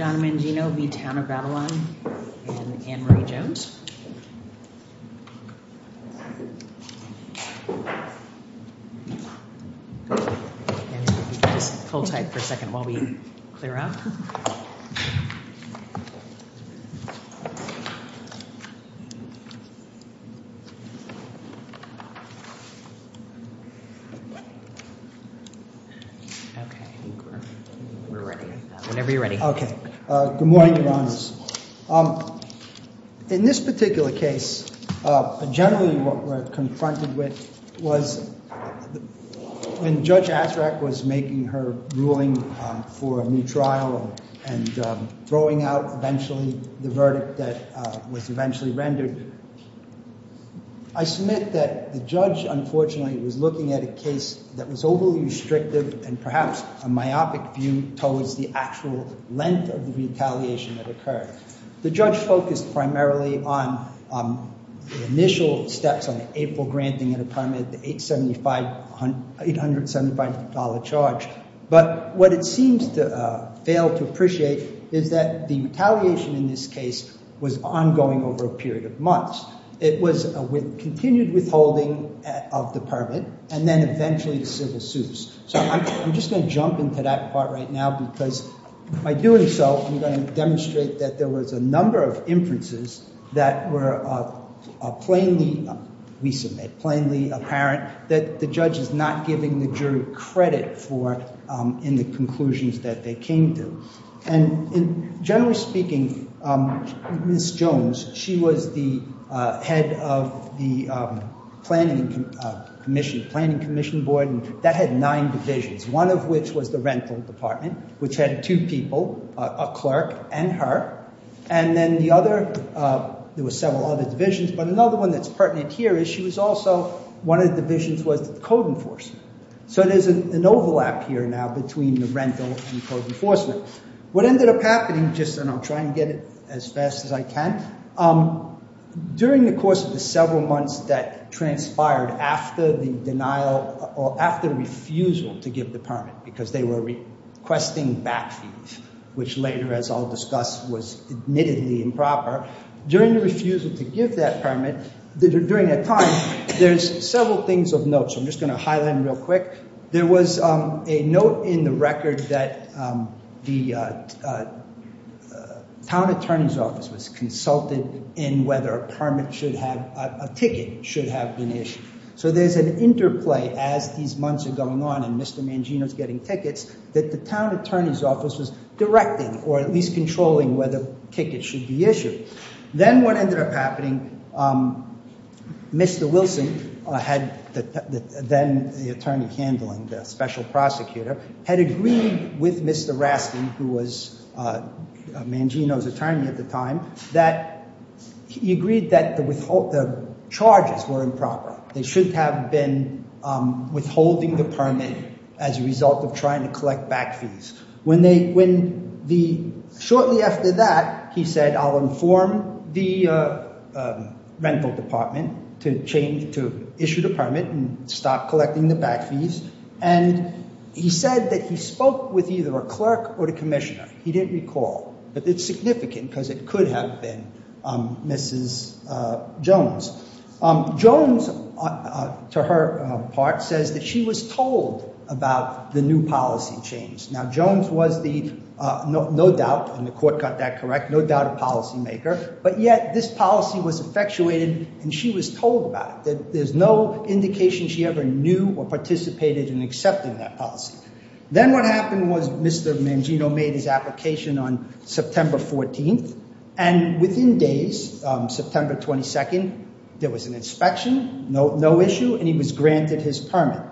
and Anne-Marie Jones. And just hold tight for a second while we clear up. Okay. I think we're ready. Whenever you're ready. Okay. Good morning, Your Honors. In this particular case, generally what we're confronted with was when Judge Azzarack was making her ruling for a new trial and throwing out eventually the verdict that was eventually rendered, I submit that the judge, unfortunately, was looking at a case that was overly restrictive and perhaps a myopic view towards the actual length of the retaliation that occurred. The judge focused primarily on the initial steps on the April granting of the permit, the $875 charge. But what it seems to fail to appreciate is that the retaliation in this case was ongoing over a period of months. It was a continued withholding of the permit and then eventually civil suits. So I'm just going to jump into that part right now because by doing so, I'm going to demonstrate that there was a number of inferences that were plainly, we submit, plainly apparent, that the judge is not giving the jury credit for in the conclusions that they came to. And generally speaking, Ms. Jones, she was the head of the Planning Commission Board and that had nine divisions, one of which was the Rental Department, which had two people, a clerk and her. And then the other, there were several other divisions, but another one that's pertinent here is she was also, one of the divisions was the Code Enforcement. So there's an overlap here now between the Rental and Code Enforcement. What ended up happening just, and I'll try and get it as fast as I can, during the course of the several months that transpired after the denial or after refusal to give the permit because they were requesting back fees, which later, as I'll discuss, was admittedly improper, during the refusal to give that permit, during that time, there's several things of note. So I'm just going to highlight them real quick. There was a note in the record that the town attorney's office was consulted in whether a permit should have, a ticket should have been issued. So there's an interplay as these months are going on and Mr. Mangino's getting tickets that the town attorney's office was directing or at least controlling whether tickets should be issued. Then what ended up happening, Mr. Wilson, then the attorney handling, the special prosecutor, had agreed with Mr. Rasti, who was Mangino's attorney at the time, that he agreed that the charges were improper. They shouldn't have been withholding the permit as a result of trying to collect back fees. Shortly after that, he said, I'll inform the rental department to change, to issue the permit and stop collecting the back fees. And he said that he spoke with either a clerk or the commissioner. He didn't recall, but it's significant because it could have been Mrs. Jones. Jones, to her part, says that she was told about the new policy change. Now, Jones was the, no doubt, and the court got that correct, no doubt a policymaker, but yet this policy was effectuated and she was told about it. There's no indication she ever knew or participated in accepting that policy. Then what happened was Mr. Mangino made his application on September 14th and within days, September 22nd, there was an inspection, no issue, and he was granted his permit.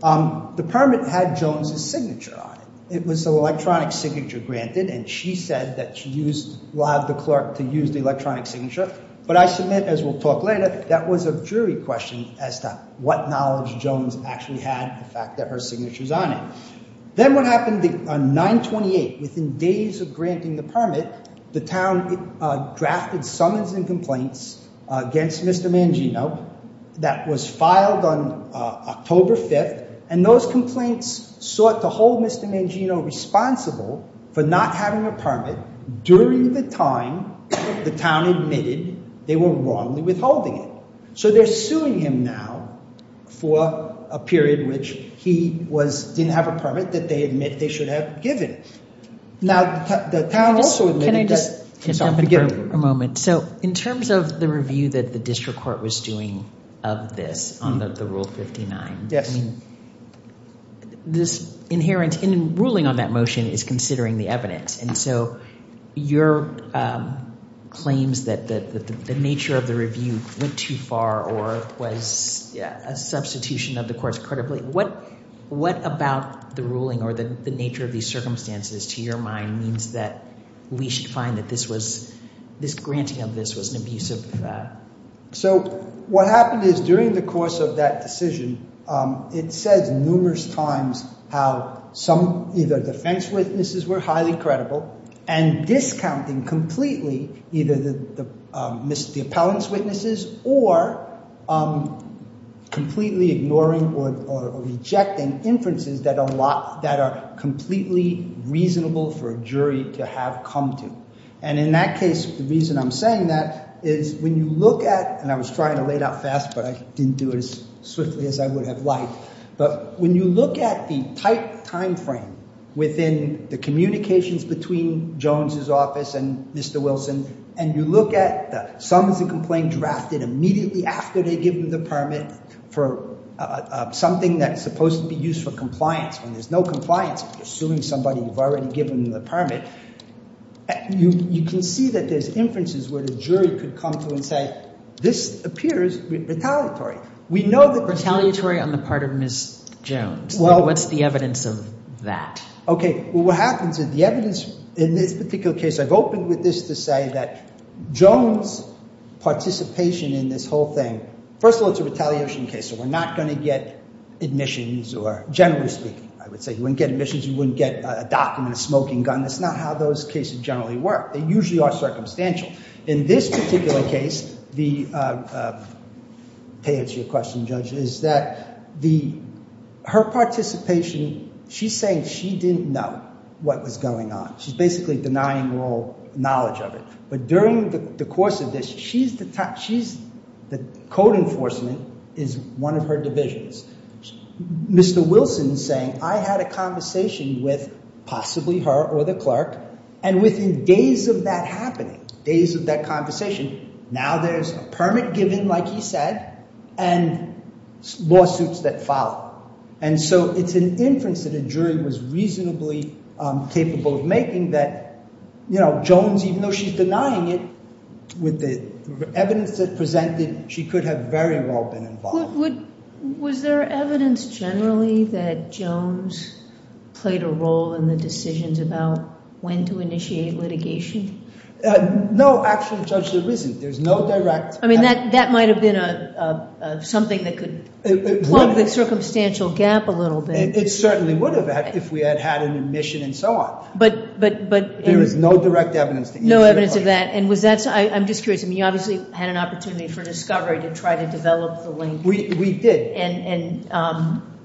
The permit had Jones's signature on it. It was an electronic signature granted and she said that she allowed the clerk to use the electronic signature, but I submit, as we'll talk later, that was a jury question as to what knowledge Jones actually had the fact that her signature's on it. Then what happened on 9-28, within days of granting the permit, the town drafted summons and complaints against Mr. Mangino that was filed on October 5th and those complaints sought to hold Mr. Mangino responsible for not having a permit during the time the town admitted they were wrongly withholding it. So they're suing him now for a period in which he didn't have a permit that they admit they should have given. Now, the town also admitted that. Can I just jump in for a moment? So in terms of the review that the district court was doing of this on the Rule 59, this inherent in ruling on that motion is considering the evidence, and so your claims that the nature of the review went too far or was a substitution of the court's credibility, what about the ruling or the nature of these circumstances to your mind means that we should find that this granting of this was an abusive? So what happened is during the course of that decision, it says numerous times how some defense witnesses were highly credible and discounting completely either the appellant's witnesses or completely ignoring or rejecting inferences that are completely reasonable for a jury to have come to. And in that case, the reason I'm saying that is when you look at, and I was trying to lay it out fast, but I didn't do it as swiftly as I would have liked, but when you look at the tight timeframe within the communications between Jones's office and Mr. Wilson and you look at the sums of complaint drafted immediately after they give them the permit for something that's supposed to be used for compliance. When there's no compliance, you're suing somebody you've already given them the permit. You can see that there's inferences where the jury could come to and say, this appears retaliatory. Retaliatory on the part of Ms. Jones. What's the evidence of that? Okay. Well, what happens is the evidence in this particular case, I've opened with this to say that Jones's participation in this whole thing, first of all, it's a retaliation case, so we're not going to get admissions, or generally speaking, I would say you wouldn't get admissions, you wouldn't get a document, a smoking gun. It's not how those cases generally work. They usually are circumstantial. In this particular case, to answer your question, Judge, is that her participation, she's saying she didn't know what was going on. She's basically denying all knowledge of it. But during the course of this, the code enforcement is one of her divisions. Mr. Wilson is saying, I had a conversation with possibly her or the clerk, and within days of that happening, days of that conversation, now there's a permit given, like he said, and lawsuits that follow. And so it's an inference that a jury was reasonably capable of making that, you know, Jones, even though she's denying it, with the evidence that presented, she could have very well been involved. Was there evidence generally that Jones played a role in the decisions about when to initiate litigation? No, actually, Judge, there isn't. There's no direct evidence. I mean, that might have been something that could plug the circumstantial gap a little bit. It certainly would have if we had had an admission and so on. But there is no direct evidence to initiate litigation. No evidence of that. And I'm just curious, I mean, you obviously had an opportunity for discovery to try to develop the link. We did. And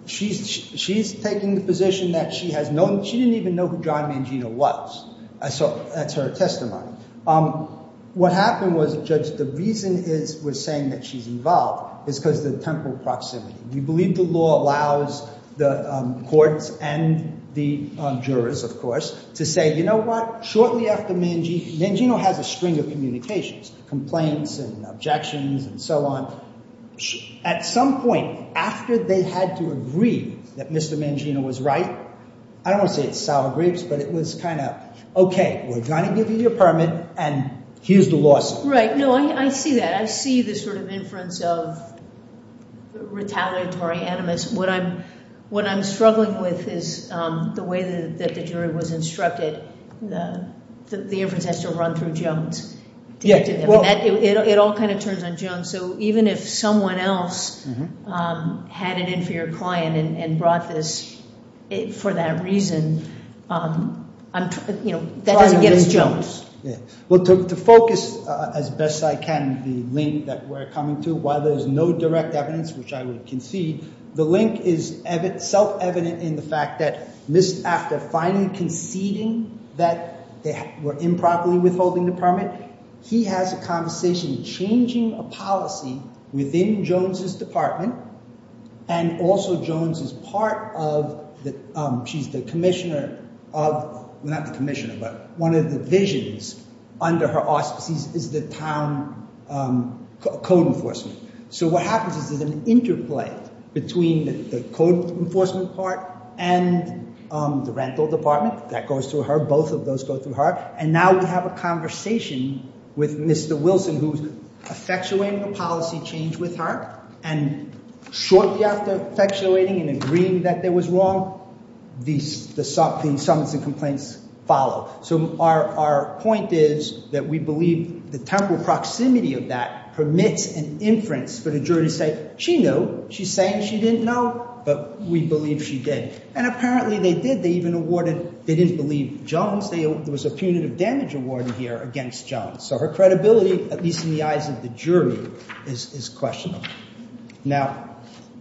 she's taking the position that she has no— she didn't even know who John Mangino was. So that's her testimony. What happened was, Judge, the reason we're saying that she's involved is because of the temporal proximity. We believe the law allows the courts and the jurors, of course, to say, you know what, shortly after Mangino— Mangino has a string of communications, complaints and objections and so on. At some point, after they had to agree that Mr. Mangino was right, I don't want to say it's sour grapes, but it was kind of, okay, we're going to give you your permit and here's the lawsuit. Right. No, I see that. I see this sort of inference of retaliatory animus. What I'm struggling with is the way that the jury was instructed. The inference has to run through Jones. It all kind of turns on Jones. So even if someone else had it in for your client and brought this for that reason, that doesn't get us Jones. Well, to focus as best I can the link that we're coming to, while there's no direct evidence, which I would concede, the link is self-evident in the fact that after finally conceding that they were improperly withholding the permit, he has a conversation changing a policy within Jones's department, and also Jones is part of—she's the commissioner of—well, not the commissioner, but one of the divisions under her auspices is the town code enforcement. So what happens is there's an interplay between the code enforcement part and the rental department. That goes through her. Both of those go through her. And now we have a conversation with Mr. Wilson, who's effectuating a policy change with her, and shortly after effectuating and agreeing that there was wrong, the summons and complaints follow. So our point is that we believe the temporal proximity of that permits an inference for the jury to say, she knew. She's saying she didn't know, but we believe she did. And apparently they did. They even awarded—they didn't believe Jones. There was a punitive damage awarded here against Jones. So her credibility, at least in the eyes of the jury, is questionable. Now,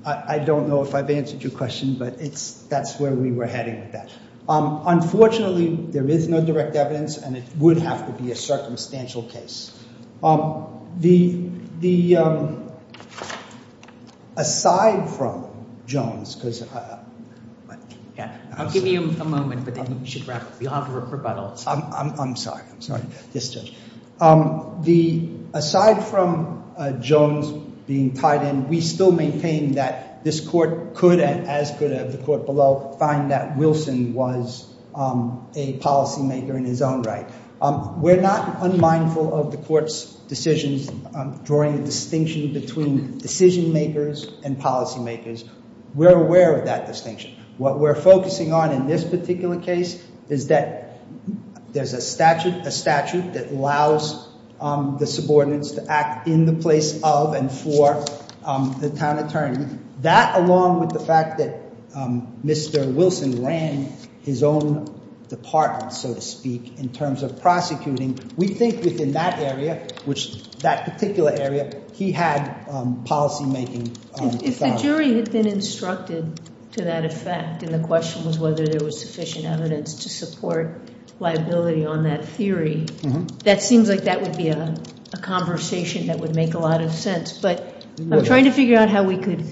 I don't know if I've answered your question, but that's where we were heading with that. Unfortunately, there is no direct evidence, and it would have to be a circumstantial case. The—aside from Jones, because— I'll give you a moment, but then you should wrap up. You'll have a rebuttal. I'm sorry. I'm sorry. Yes, Judge. The—aside from Jones being tied in, we still maintain that this court could, as could the court below, find that Wilson was a policymaker in his own right. We're not unmindful of the court's decisions, drawing a distinction between decision makers and policy makers. We're aware of that distinction. What we're focusing on in this particular case is that there's a statute, that allows the subordinates to act in the place of and for the town attorney. That, along with the fact that Mr. Wilson ran his own department, so to speak, in terms of prosecuting, we think within that area, which that particular area, he had policymaking authority. If the jury had been instructed to that effect, and the question was whether there was sufficient evidence to support liability on that theory, that seems like that would be a conversation that would make a lot of sense. But I'm trying to figure out how we could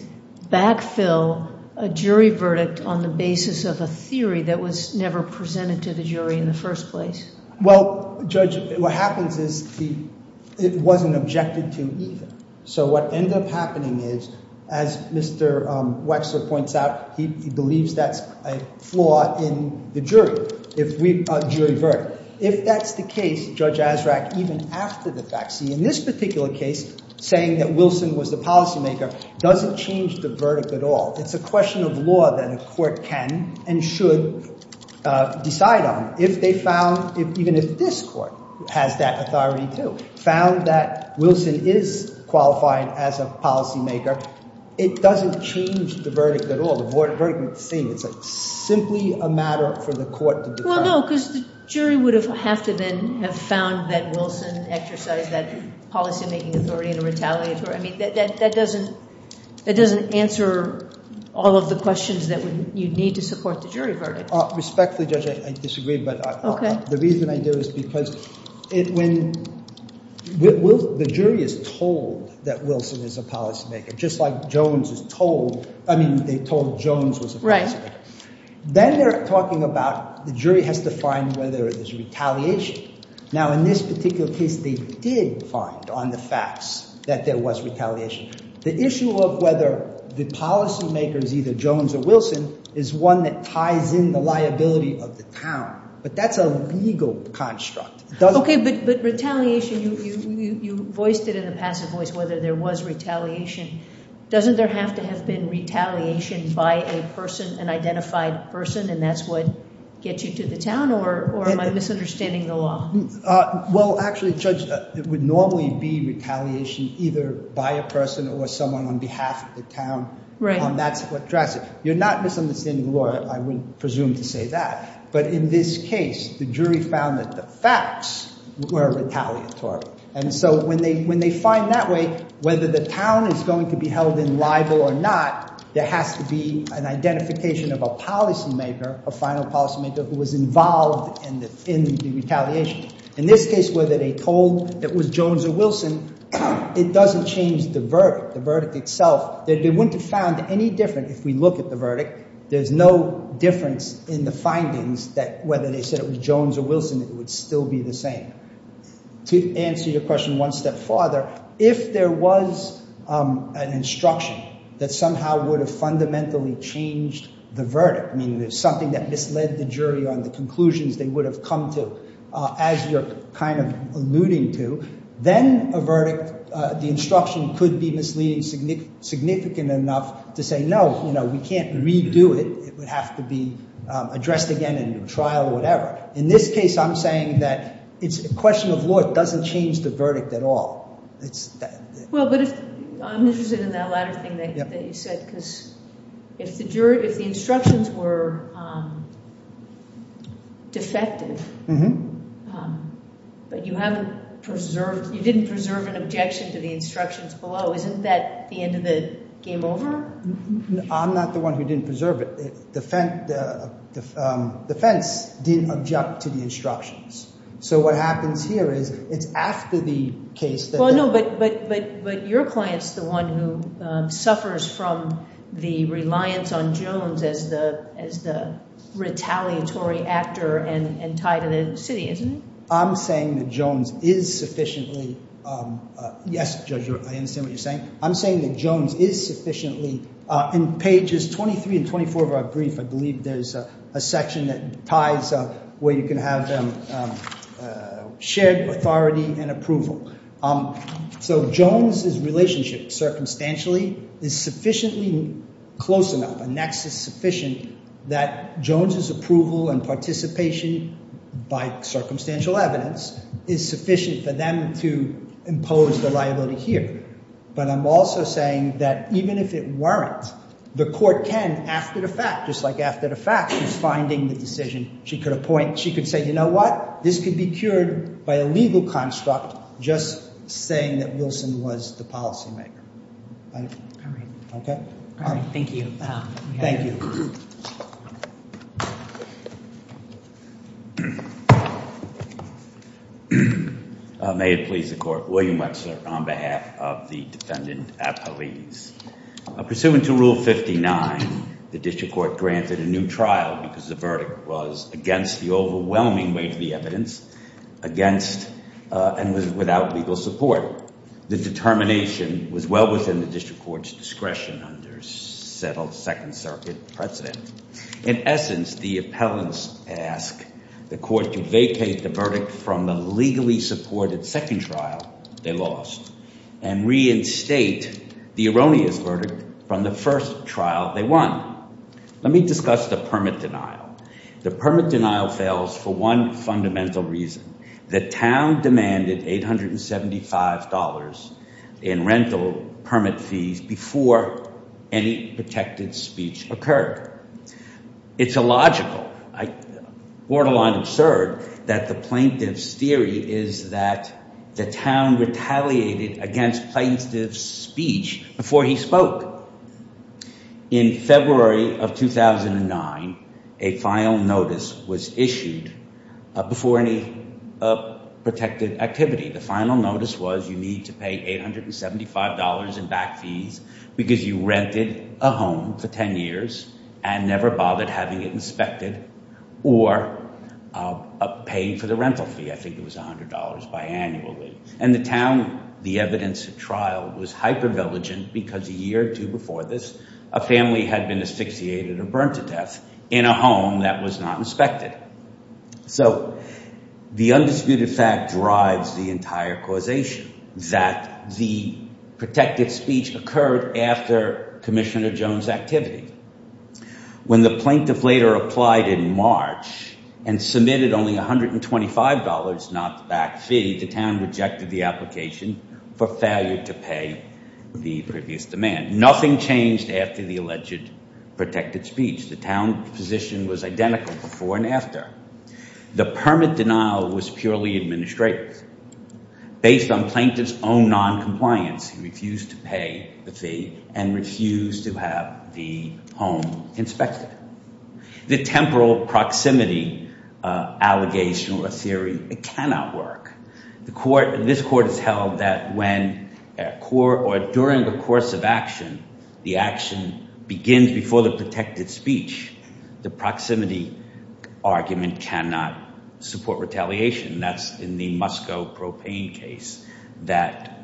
backfill a jury verdict on the basis of a theory that was never presented to the jury in the first place. Well, Judge, what happens is it wasn't objected to either. So what ended up happening is, as Mr. Wexler points out, he believes that's a flaw in the jury verdict. If that's the case, Judge Azraq, even after the fact, see, in this particular case, saying that Wilson was the policymaker doesn't change the verdict at all. It's a question of law that a court can and should decide on. If they found, even if this court has that authority too, found that Wilson is qualified as a policymaker, it doesn't change the verdict at all. The verdict remains the same. It's simply a matter for the court to determine. Well, no, because the jury would have to then have found that Wilson exercised that policymaking authority and a retaliatory authority. I mean, that doesn't answer all of the questions that you'd need to support the jury verdict. Respectfully, Judge, I disagree. But the reason I do is because when the jury is told that Wilson is a policymaker, just like Jones is told, I mean, they told Jones was a policymaker, then they're talking about the jury has to find whether there's retaliation. Now, in this particular case, they did find on the facts that there was retaliation. The issue of whether the policymaker is either Jones or Wilson is one that ties in the liability of the town. But that's a legal construct. Okay, but retaliation, you voiced it in the passive voice whether there was retaliation. Doesn't there have to have been retaliation by a person, an identified person, and that's what gets you to the town, or am I misunderstanding the law? Well, actually, Judge, it would normally be retaliation either by a person or someone on behalf of the town. Right. And that's what drives it. You're not misunderstanding the law. I would presume to say that. But in this case, the jury found that the facts were retaliatory. And so when they find that way, whether the town is going to be held in libel or not, there has to be an identification of a policymaker, a final policymaker who was involved in the retaliation. In this case, whether they told it was Jones or Wilson, it doesn't change the verdict, the verdict itself. They wouldn't have found any different if we look at the verdict. There's no difference in the findings that whether they said it was Jones or Wilson, it would still be the same. To answer your question one step farther, if there was an instruction that somehow would have fundamentally changed the verdict, meaning there's something that misled the jury on the conclusions they would have come to, as you're kind of alluding to, then a verdict, the instruction could be misleading significant enough to say, no, you know, we can't redo it. It would have to be addressed again in a trial or whatever. In this case, I'm saying that it's a question of law. It doesn't change the verdict at all. Well, but I'm interested in that latter thing that you said, because if the instructions were defective, but you didn't preserve an objection to the instructions below, isn't that the end of the game over? I'm not the one who didn't preserve it. The defense didn't object to the instructions. So what happens here is it's after the case that- Well, no, but your client's the one who suffers from the reliance on Jones as the retaliatory actor and tied to the city, isn't it? I'm saying that Jones is sufficiently- Yes, Judge, I understand what you're saying. I'm saying that Jones is sufficiently- In pages 23 and 24 of our brief, I believe there's a section that ties up where you can have shared authority and approval. So Jones' relationship circumstantially is sufficiently close enough, a nexus sufficient, that Jones' approval and participation by circumstantial evidence is sufficient for them to impose the liability here. But I'm also saying that even if it weren't, the court can, after the fact, just like after the fact, she's finding the decision she could appoint. She could say, you know what? This could be cured by a legal construct just saying that Wilson was the policymaker. All right. Okay? All right. Thank you. Thank you. May it please the court. William Wexler on behalf of the defendant, Apollides. Pursuant to Rule 59, the district court granted a new trial because the verdict was against the overwhelming weight of the evidence, against and without legal support. Therefore, the determination was well within the district court's discretion under settled Second Circuit precedent. In essence, the appellants ask the court to vacate the verdict from the legally supported second trial they lost and reinstate the erroneous verdict from the first trial they won. Let me discuss the permit denial. The permit denial fails for one fundamental reason. The town demanded $875 in rental permit fees before any protected speech occurred. It's illogical, borderline absurd, that the plaintiff's theory is that the town retaliated against plaintiff's speech before he spoke. In February of 2009, a final notice was issued before any protected activity. The final notice was you need to pay $875 in back fees because you rented a home for 10 years and never bothered having it inspected or paying for the rental fee. I think it was $100 biannually. And the town, the evidence of trial, was hypervigilant because a year or two before this, a family had been asphyxiated or burned to death in a home that was not inspected. So the undisputed fact drives the entire causation that the protected speech occurred after Commissioner Jones' activity. When the plaintiff later applied in March and submitted only $125, not the back fee, the town rejected the application for failure to pay the previous demand. Nothing changed after the alleged protected speech. The town position was identical before and after. The permit denial was purely administrative. Based on plaintiff's own noncompliance, he refused to pay the fee and refused to have the home inspected. The temporal proximity allegation or theory cannot work. This court has held that when or during the course of action, the action begins before the protected speech, the proximity argument cannot support retaliation. That's in the Moscow propane case that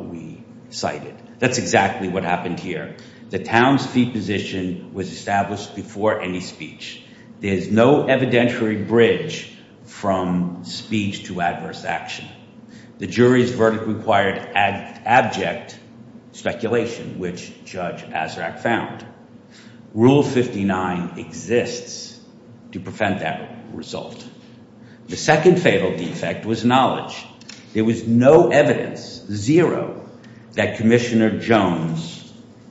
we cited. That's exactly what happened here. The town's fee position was established before any speech. There's no evidentiary bridge from speech to adverse action. The jury's verdict required abject speculation, which Judge Azraq found. Rule 59 exists to prevent that result. The second fatal defect was knowledge. There was no evidence, zero, that Commissioner Jones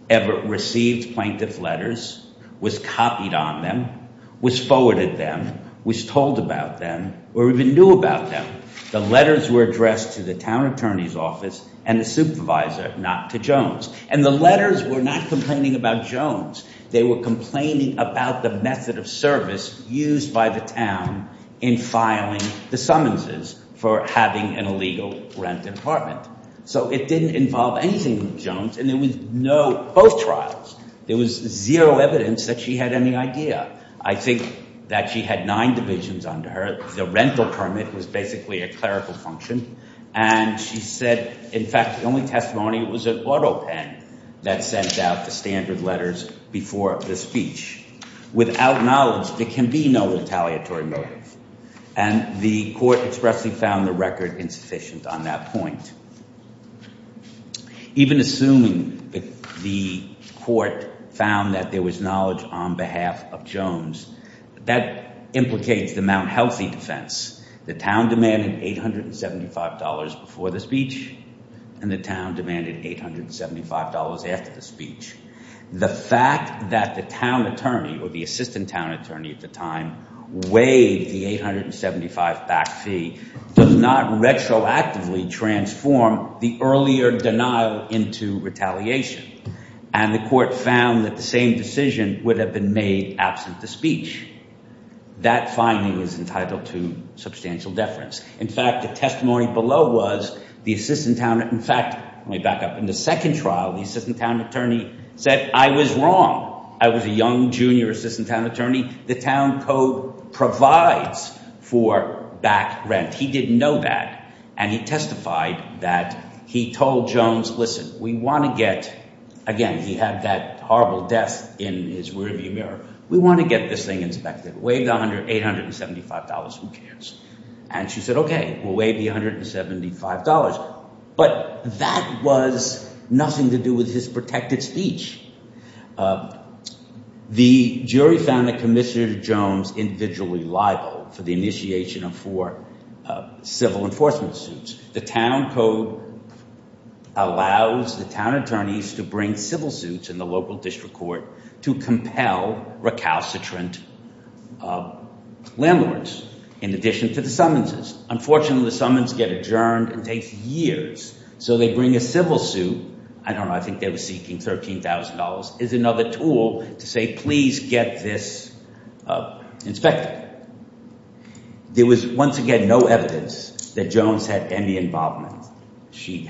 ever received plaintiff's letters, was copied on them, was forwarded them, was told about them, or even knew about them. The letters were addressed to the town attorney's office and the supervisor, not to Jones. And the letters were not complaining about Jones. They were complaining about the method of service used by the town in filing the summonses for having an illegal rent apartment. So it didn't involve anything with Jones, and there was no both trials. There was zero evidence that she had any idea. I think that she had nine divisions under her. The rental permit was basically a clerical function. And she said, in fact, the only testimony was an auto pen that sent out the standard letters before the speech. Without knowledge, there can be no retaliatory motive. And the court expressly found the record insufficient on that point. Even assuming the court found that there was knowledge on behalf of Jones, that implicates the Mount Healthy defense. The town demanded $875 before the speech, and the town demanded $875 after the speech. The fact that the town attorney or the assistant town attorney at the time waived the $875 back fee does not retroactively transform the earlier denial into retaliation. And the court found that the same decision would have been made absent the speech. That finding is entitled to substantial deference. In fact, the testimony below was the assistant town attorney. In fact, let me back up. In the second trial, the assistant town attorney said, I was wrong. I was a young junior assistant town attorney. The town code provides for back rent. He didn't know that. And he testified that he told Jones, listen, we want to get, again, he had that horrible death in his rearview mirror. We want to get this thing inspected. Waive the $875. Who cares? And she said, OK, we'll waive the $175. But that was nothing to do with his protected speech. The jury found that Commissioner Jones individually liable for the initiation of four civil enforcement suits. The town code allows the town attorneys to bring civil suits in the local district court to compel recalcitrant landlords in addition to the summonses. Unfortunately, the summons get adjourned. It takes years. So they bring a civil suit. I don't know. I think they were seeking $13,000 as another tool to say, please get this inspected. There was, once again, no evidence that Jones had any involvement. She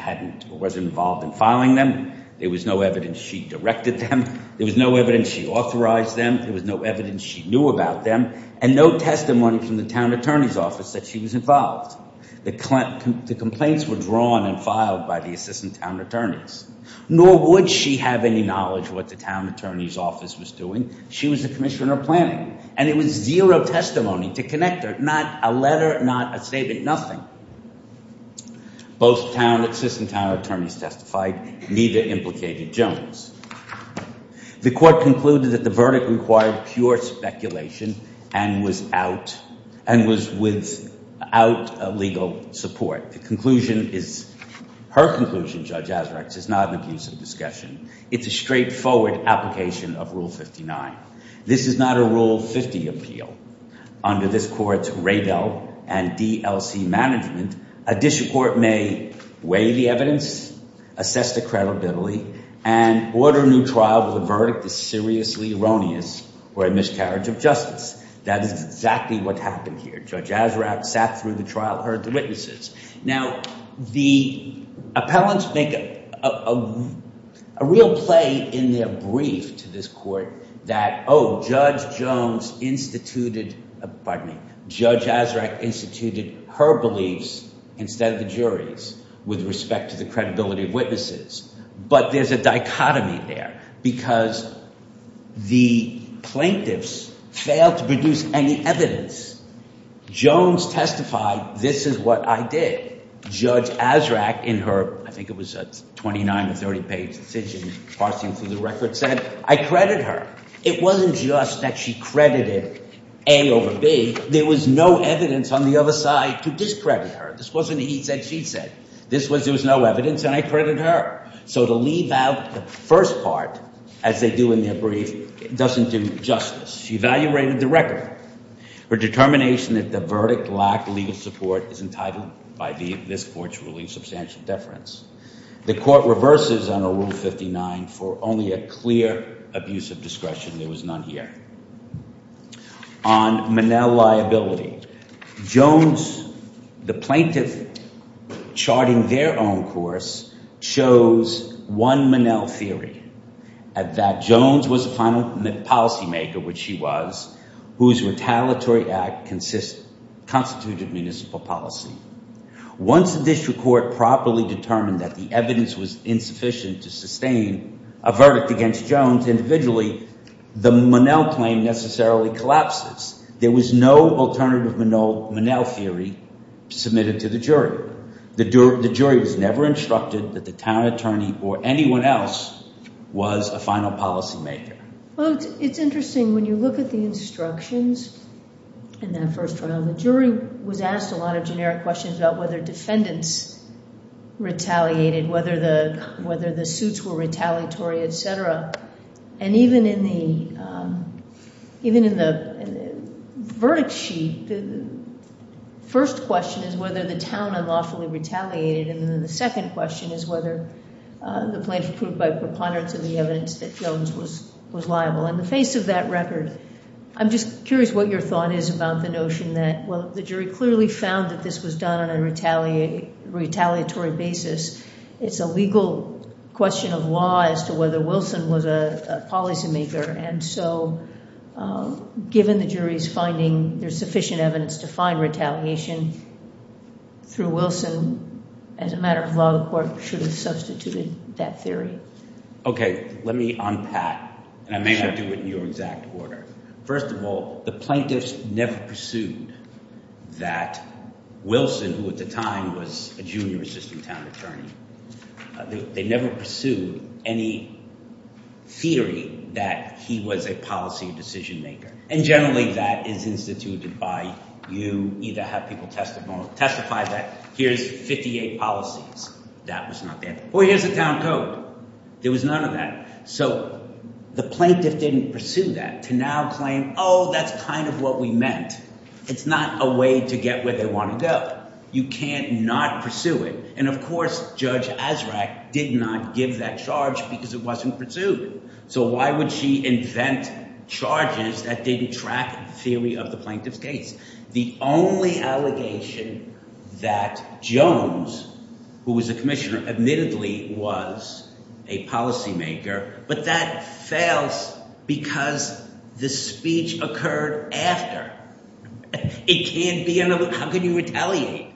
wasn't involved in filing them. There was no evidence she directed them. There was no evidence she authorized them. There was no evidence she knew about them. And no testimony from the town attorney's office that she was involved. The complaints were drawn and filed by the assistant town attorneys. Nor would she have any knowledge of what the town attorney's office was doing. She was the commissioner planning. And there was zero testimony to connect her. Not a letter, not a statement, nothing. Both town assistant town attorneys testified. Neither implicated Jones. The court concluded that the verdict required pure speculation and was without legal support. The conclusion is, her conclusion, Judge Azrax, is not an abusive discussion. It's a straightforward application of Rule 59. This is not a Rule 50 appeal. Under this court's RADEL and DLC management, a district court may weigh the evidence, assess the credibility, and order a new trial where the verdict is seriously erroneous or a miscarriage of justice. That is exactly what happened here. Judge Azrax sat through the trial, heard the witnesses. Now, the appellants make a real play in their brief to this court that, oh, Judge Jones instituted, pardon me, Judge Azrax instituted her beliefs instead of the jury's with respect to the credibility of witnesses. But there's a dichotomy there because the plaintiffs failed to produce any evidence. Jones testified, this is what I did. Judge Azrax, in her, I think it was a 29 or 30-page decision, parsing through the record, said, I credit her. It wasn't just that she credited A over B. There was no evidence on the other side to discredit her. This wasn't he said, she said. This was there was no evidence, and I credit her. So to leave out the first part, as they do in their brief, doesn't do justice. She evaluated the record. Her determination that the verdict lacked legal support is entitled by this court's ruling substantial deference. The court reverses under Rule 59 for only a clear abuse of discretion. There was none here. On Monell liability, Jones, the plaintiff charting their own course, shows one Monell theory, that Jones was a policymaker, which she was, whose retaliatory act constituted municipal policy. Once the district court properly determined that the evidence was insufficient to sustain a verdict against Jones individually, the Monell claim necessarily collapses. There was no alternative Monell theory submitted to the jury. The jury was never instructed that the town attorney or anyone else was a final policymaker. Well, it's interesting when you look at the instructions in that first trial, the jury was asked a lot of generic questions about whether defendants retaliated, whether the suits were retaliatory, etc. And even in the verdict sheet, the first question is whether the town unlawfully retaliated, and then the second question is whether the plaintiff proved by preponderance of the evidence that Jones was liable. In the face of that record, I'm just curious what your thought is about the notion that, well, the jury clearly found that this was done on a retaliatory basis. It's a legal question of law as to whether Wilson was a policymaker, and so given the jury's finding there's sufficient evidence to find retaliation through Wilson, as a matter of law, the court should have substituted that theory. Okay, let me unpack, and I may not do it in your exact order. First of all, the plaintiffs never pursued that Wilson, who at the time was a junior assistant town attorney, they never pursued any theory that he was a policy decisionmaker, and generally that is instituted by you either have people testify that here's 58 policies, that was not there, or here's the town code. There was none of that. So the plaintiff didn't pursue that to now claim, oh, that's kind of what we meant. It's not a way to get where they want to go. You can't not pursue it. And of course, Judge Azraq did not give that charge because it wasn't pursued. So why would she invent charges that didn't track the theory of the plaintiff's case? The only allegation that Jones, who was a commissioner, admittedly was a policymaker, but that fails because the speech occurred after. It can't be, how can you retaliate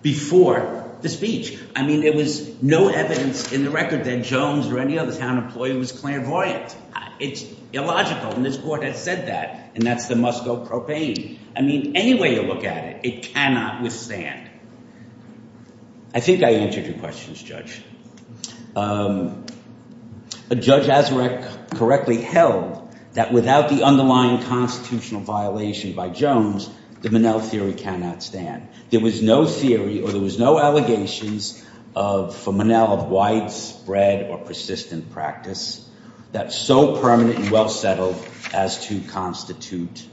before the speech? I mean, there was no evidence in the record that Jones or any other town employee was clairvoyant. It's illogical, and this court has said that, and that's the must-go propane. I mean, any way you look at it, it cannot withstand. I think I answered your questions, Judge. But Judge Azraq correctly held that without the underlying constitutional violation by Jones, the Monell theory cannot stand. There was no theory or there was no allegations for Monell of widespread or persistent practice that's so permanent and well-settled as to constitute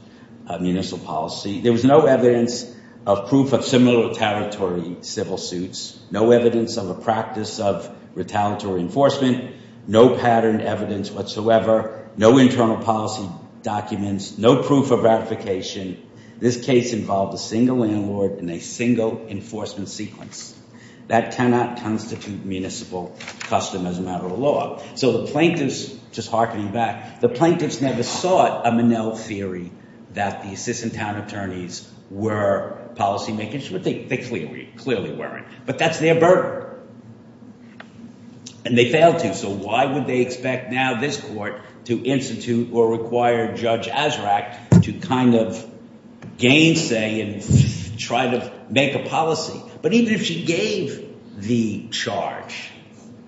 a municipal policy. There was no evidence of proof of similar retaliatory civil suits, no evidence of a practice of retaliatory enforcement, no patterned evidence whatsoever, no internal policy documents, no proof of ratification. This case involved a single landlord and a single enforcement sequence. That cannot constitute municipal custom as a matter of law. So the plaintiffs, just hearkening back, the plaintiffs never sought a Monell theory that the assistant town attorneys were policymakers, but they clearly weren't. But that's their burden, and they failed to. So why would they expect now this court to institute or require Judge Azraq to kind of gainsay and try to make a policy? But even if she gave the charge,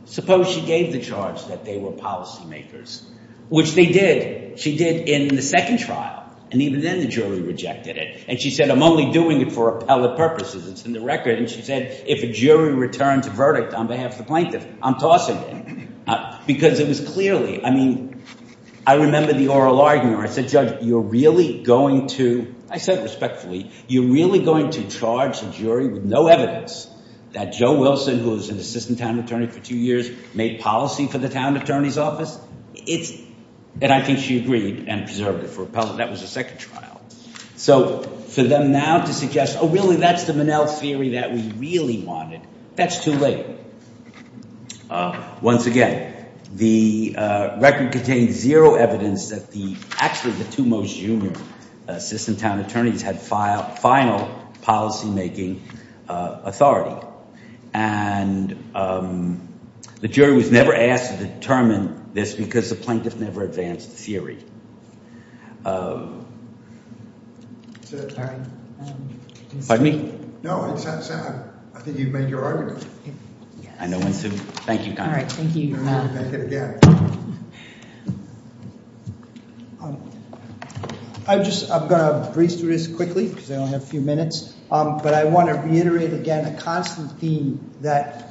suppose she gave the charge that they were policymakers, which they did, she did in the second trial, and even then the jury rejected it. And she said, I'm only doing it for appellate purposes. It's in the record. And she said, if a jury returns a verdict on behalf of the plaintiff, I'm tossing it. Because it was clearly, I mean, I remember the oral argument where I said, Judge, you're really going to, I said respectfully, you're really going to charge a jury with no evidence that Joe Wilson, who was an assistant town attorney for two years, made policy for the town attorney's office? And I think she agreed and preserved it for appellate. That was the second trial. So for them now to suggest, oh, really, that's the Minnell theory that we really wanted, that's too late. Once again, the record contained zero evidence that actually the two most junior assistant town attorneys had final policymaking authority. And the jury was never asked to determine this because the plaintiff never advanced the theory. Pardon me? No, I think you've made your argument. Thank you. All right. Thank you. I'm going to breeze through this quickly because I only have a few minutes. But I want to reiterate again a constant theme that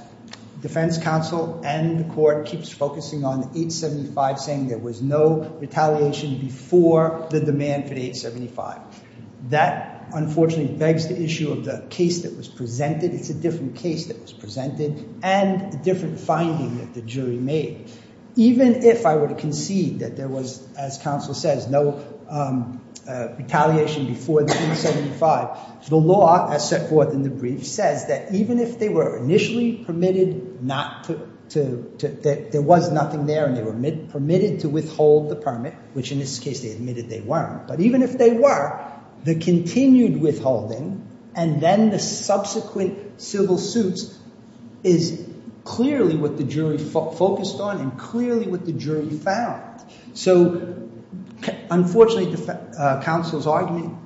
defense counsel and the court keeps focusing on 875 saying there was no retaliation before the demand for 875. That, unfortunately, begs the issue of the case that was presented. It's a different case that was presented and a different finding that the jury made. Even if I were to concede that there was, as counsel says, no retaliation before the 875, the law as set forth in the brief says that even if they were initially permitted not to, that there was nothing there and they were permitted to withhold the permit, which in this case they admitted they weren't, but even if they were, the continued withholding and then the subsequent civil suits is clearly what the jury focused on and clearly what the jury found. Unfortunately, counsel's argument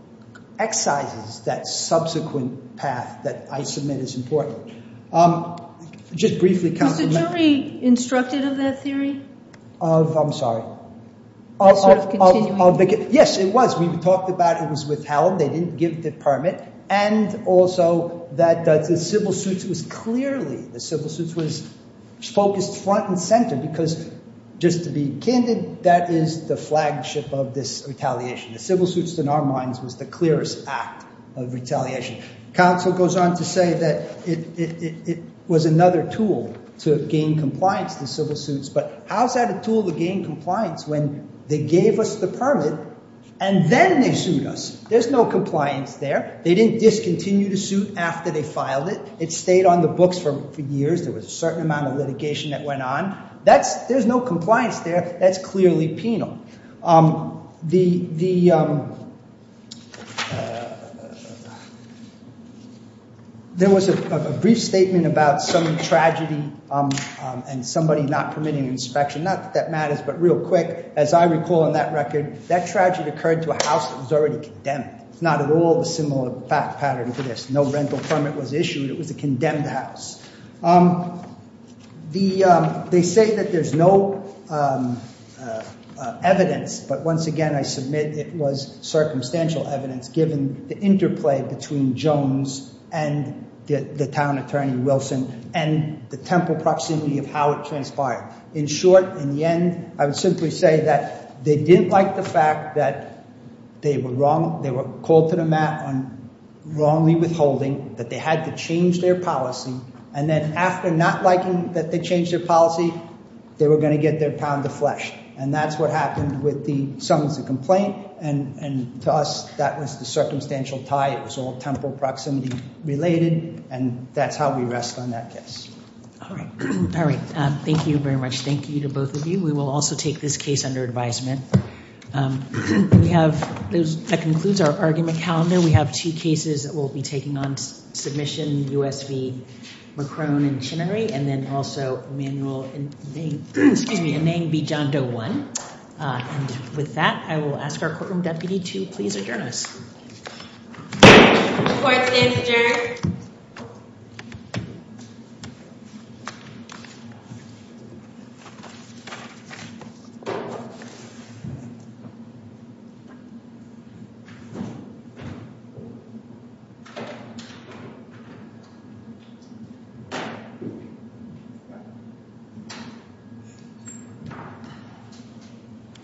excises that subsequent path that I submit is important. Just briefly, counsel. Was the jury instructed of that theory? I'm sorry. Of continuing? Yes, it was. We talked about it was withheld. They didn't give the permit. And also that the civil suits was clearly, the civil suits was focused front and center because just to be candid, that is the flagship of this retaliation. The civil suits in our minds was the clearest act of retaliation. Counsel goes on to say that it was another tool to gain compliance, the civil suits, but how's that a tool to gain compliance when they gave us the permit and then they sued us? There's no compliance there. They didn't discontinue the suit after they filed it. It stayed on the books for years. There was a certain amount of litigation that went on. There's no compliance there. That's clearly penal. There was a brief statement about some tragedy and somebody not permitting inspection. Not that that matters, but real quick, as I recall in that record, that tragedy occurred to a house that was already condemned. It's not at all a similar pattern to this. No rental permit was issued. It was a condemned house. They say that there's no evidence, but once again, I submit it was circumstantial evidence given the interplay between Jones and the town attorney, Wilson, and the temple proximity of how it transpired. In short, in the end, I would simply say that they didn't like the fact that they were wrong. Wrongly withholding, that they had to change their policy, and then after not liking that they changed their policy, they were going to get their pound of flesh. That's what happened with the summons to complaint. To us, that was the circumstantial tie. It was all temple proximity related, and that's how we rest on that case. All right. Thank you very much. Thank you to both of you. We will also take this case under advisement. That concludes our argument calendar. We have two cases that we'll be taking on submission, U.S. v. McCrone and Chinnery, and then also a manual in name v. John Doe 1. With that, I will ask our courtroom deputy to please adjourn us. Court stands adjourned. Thank you.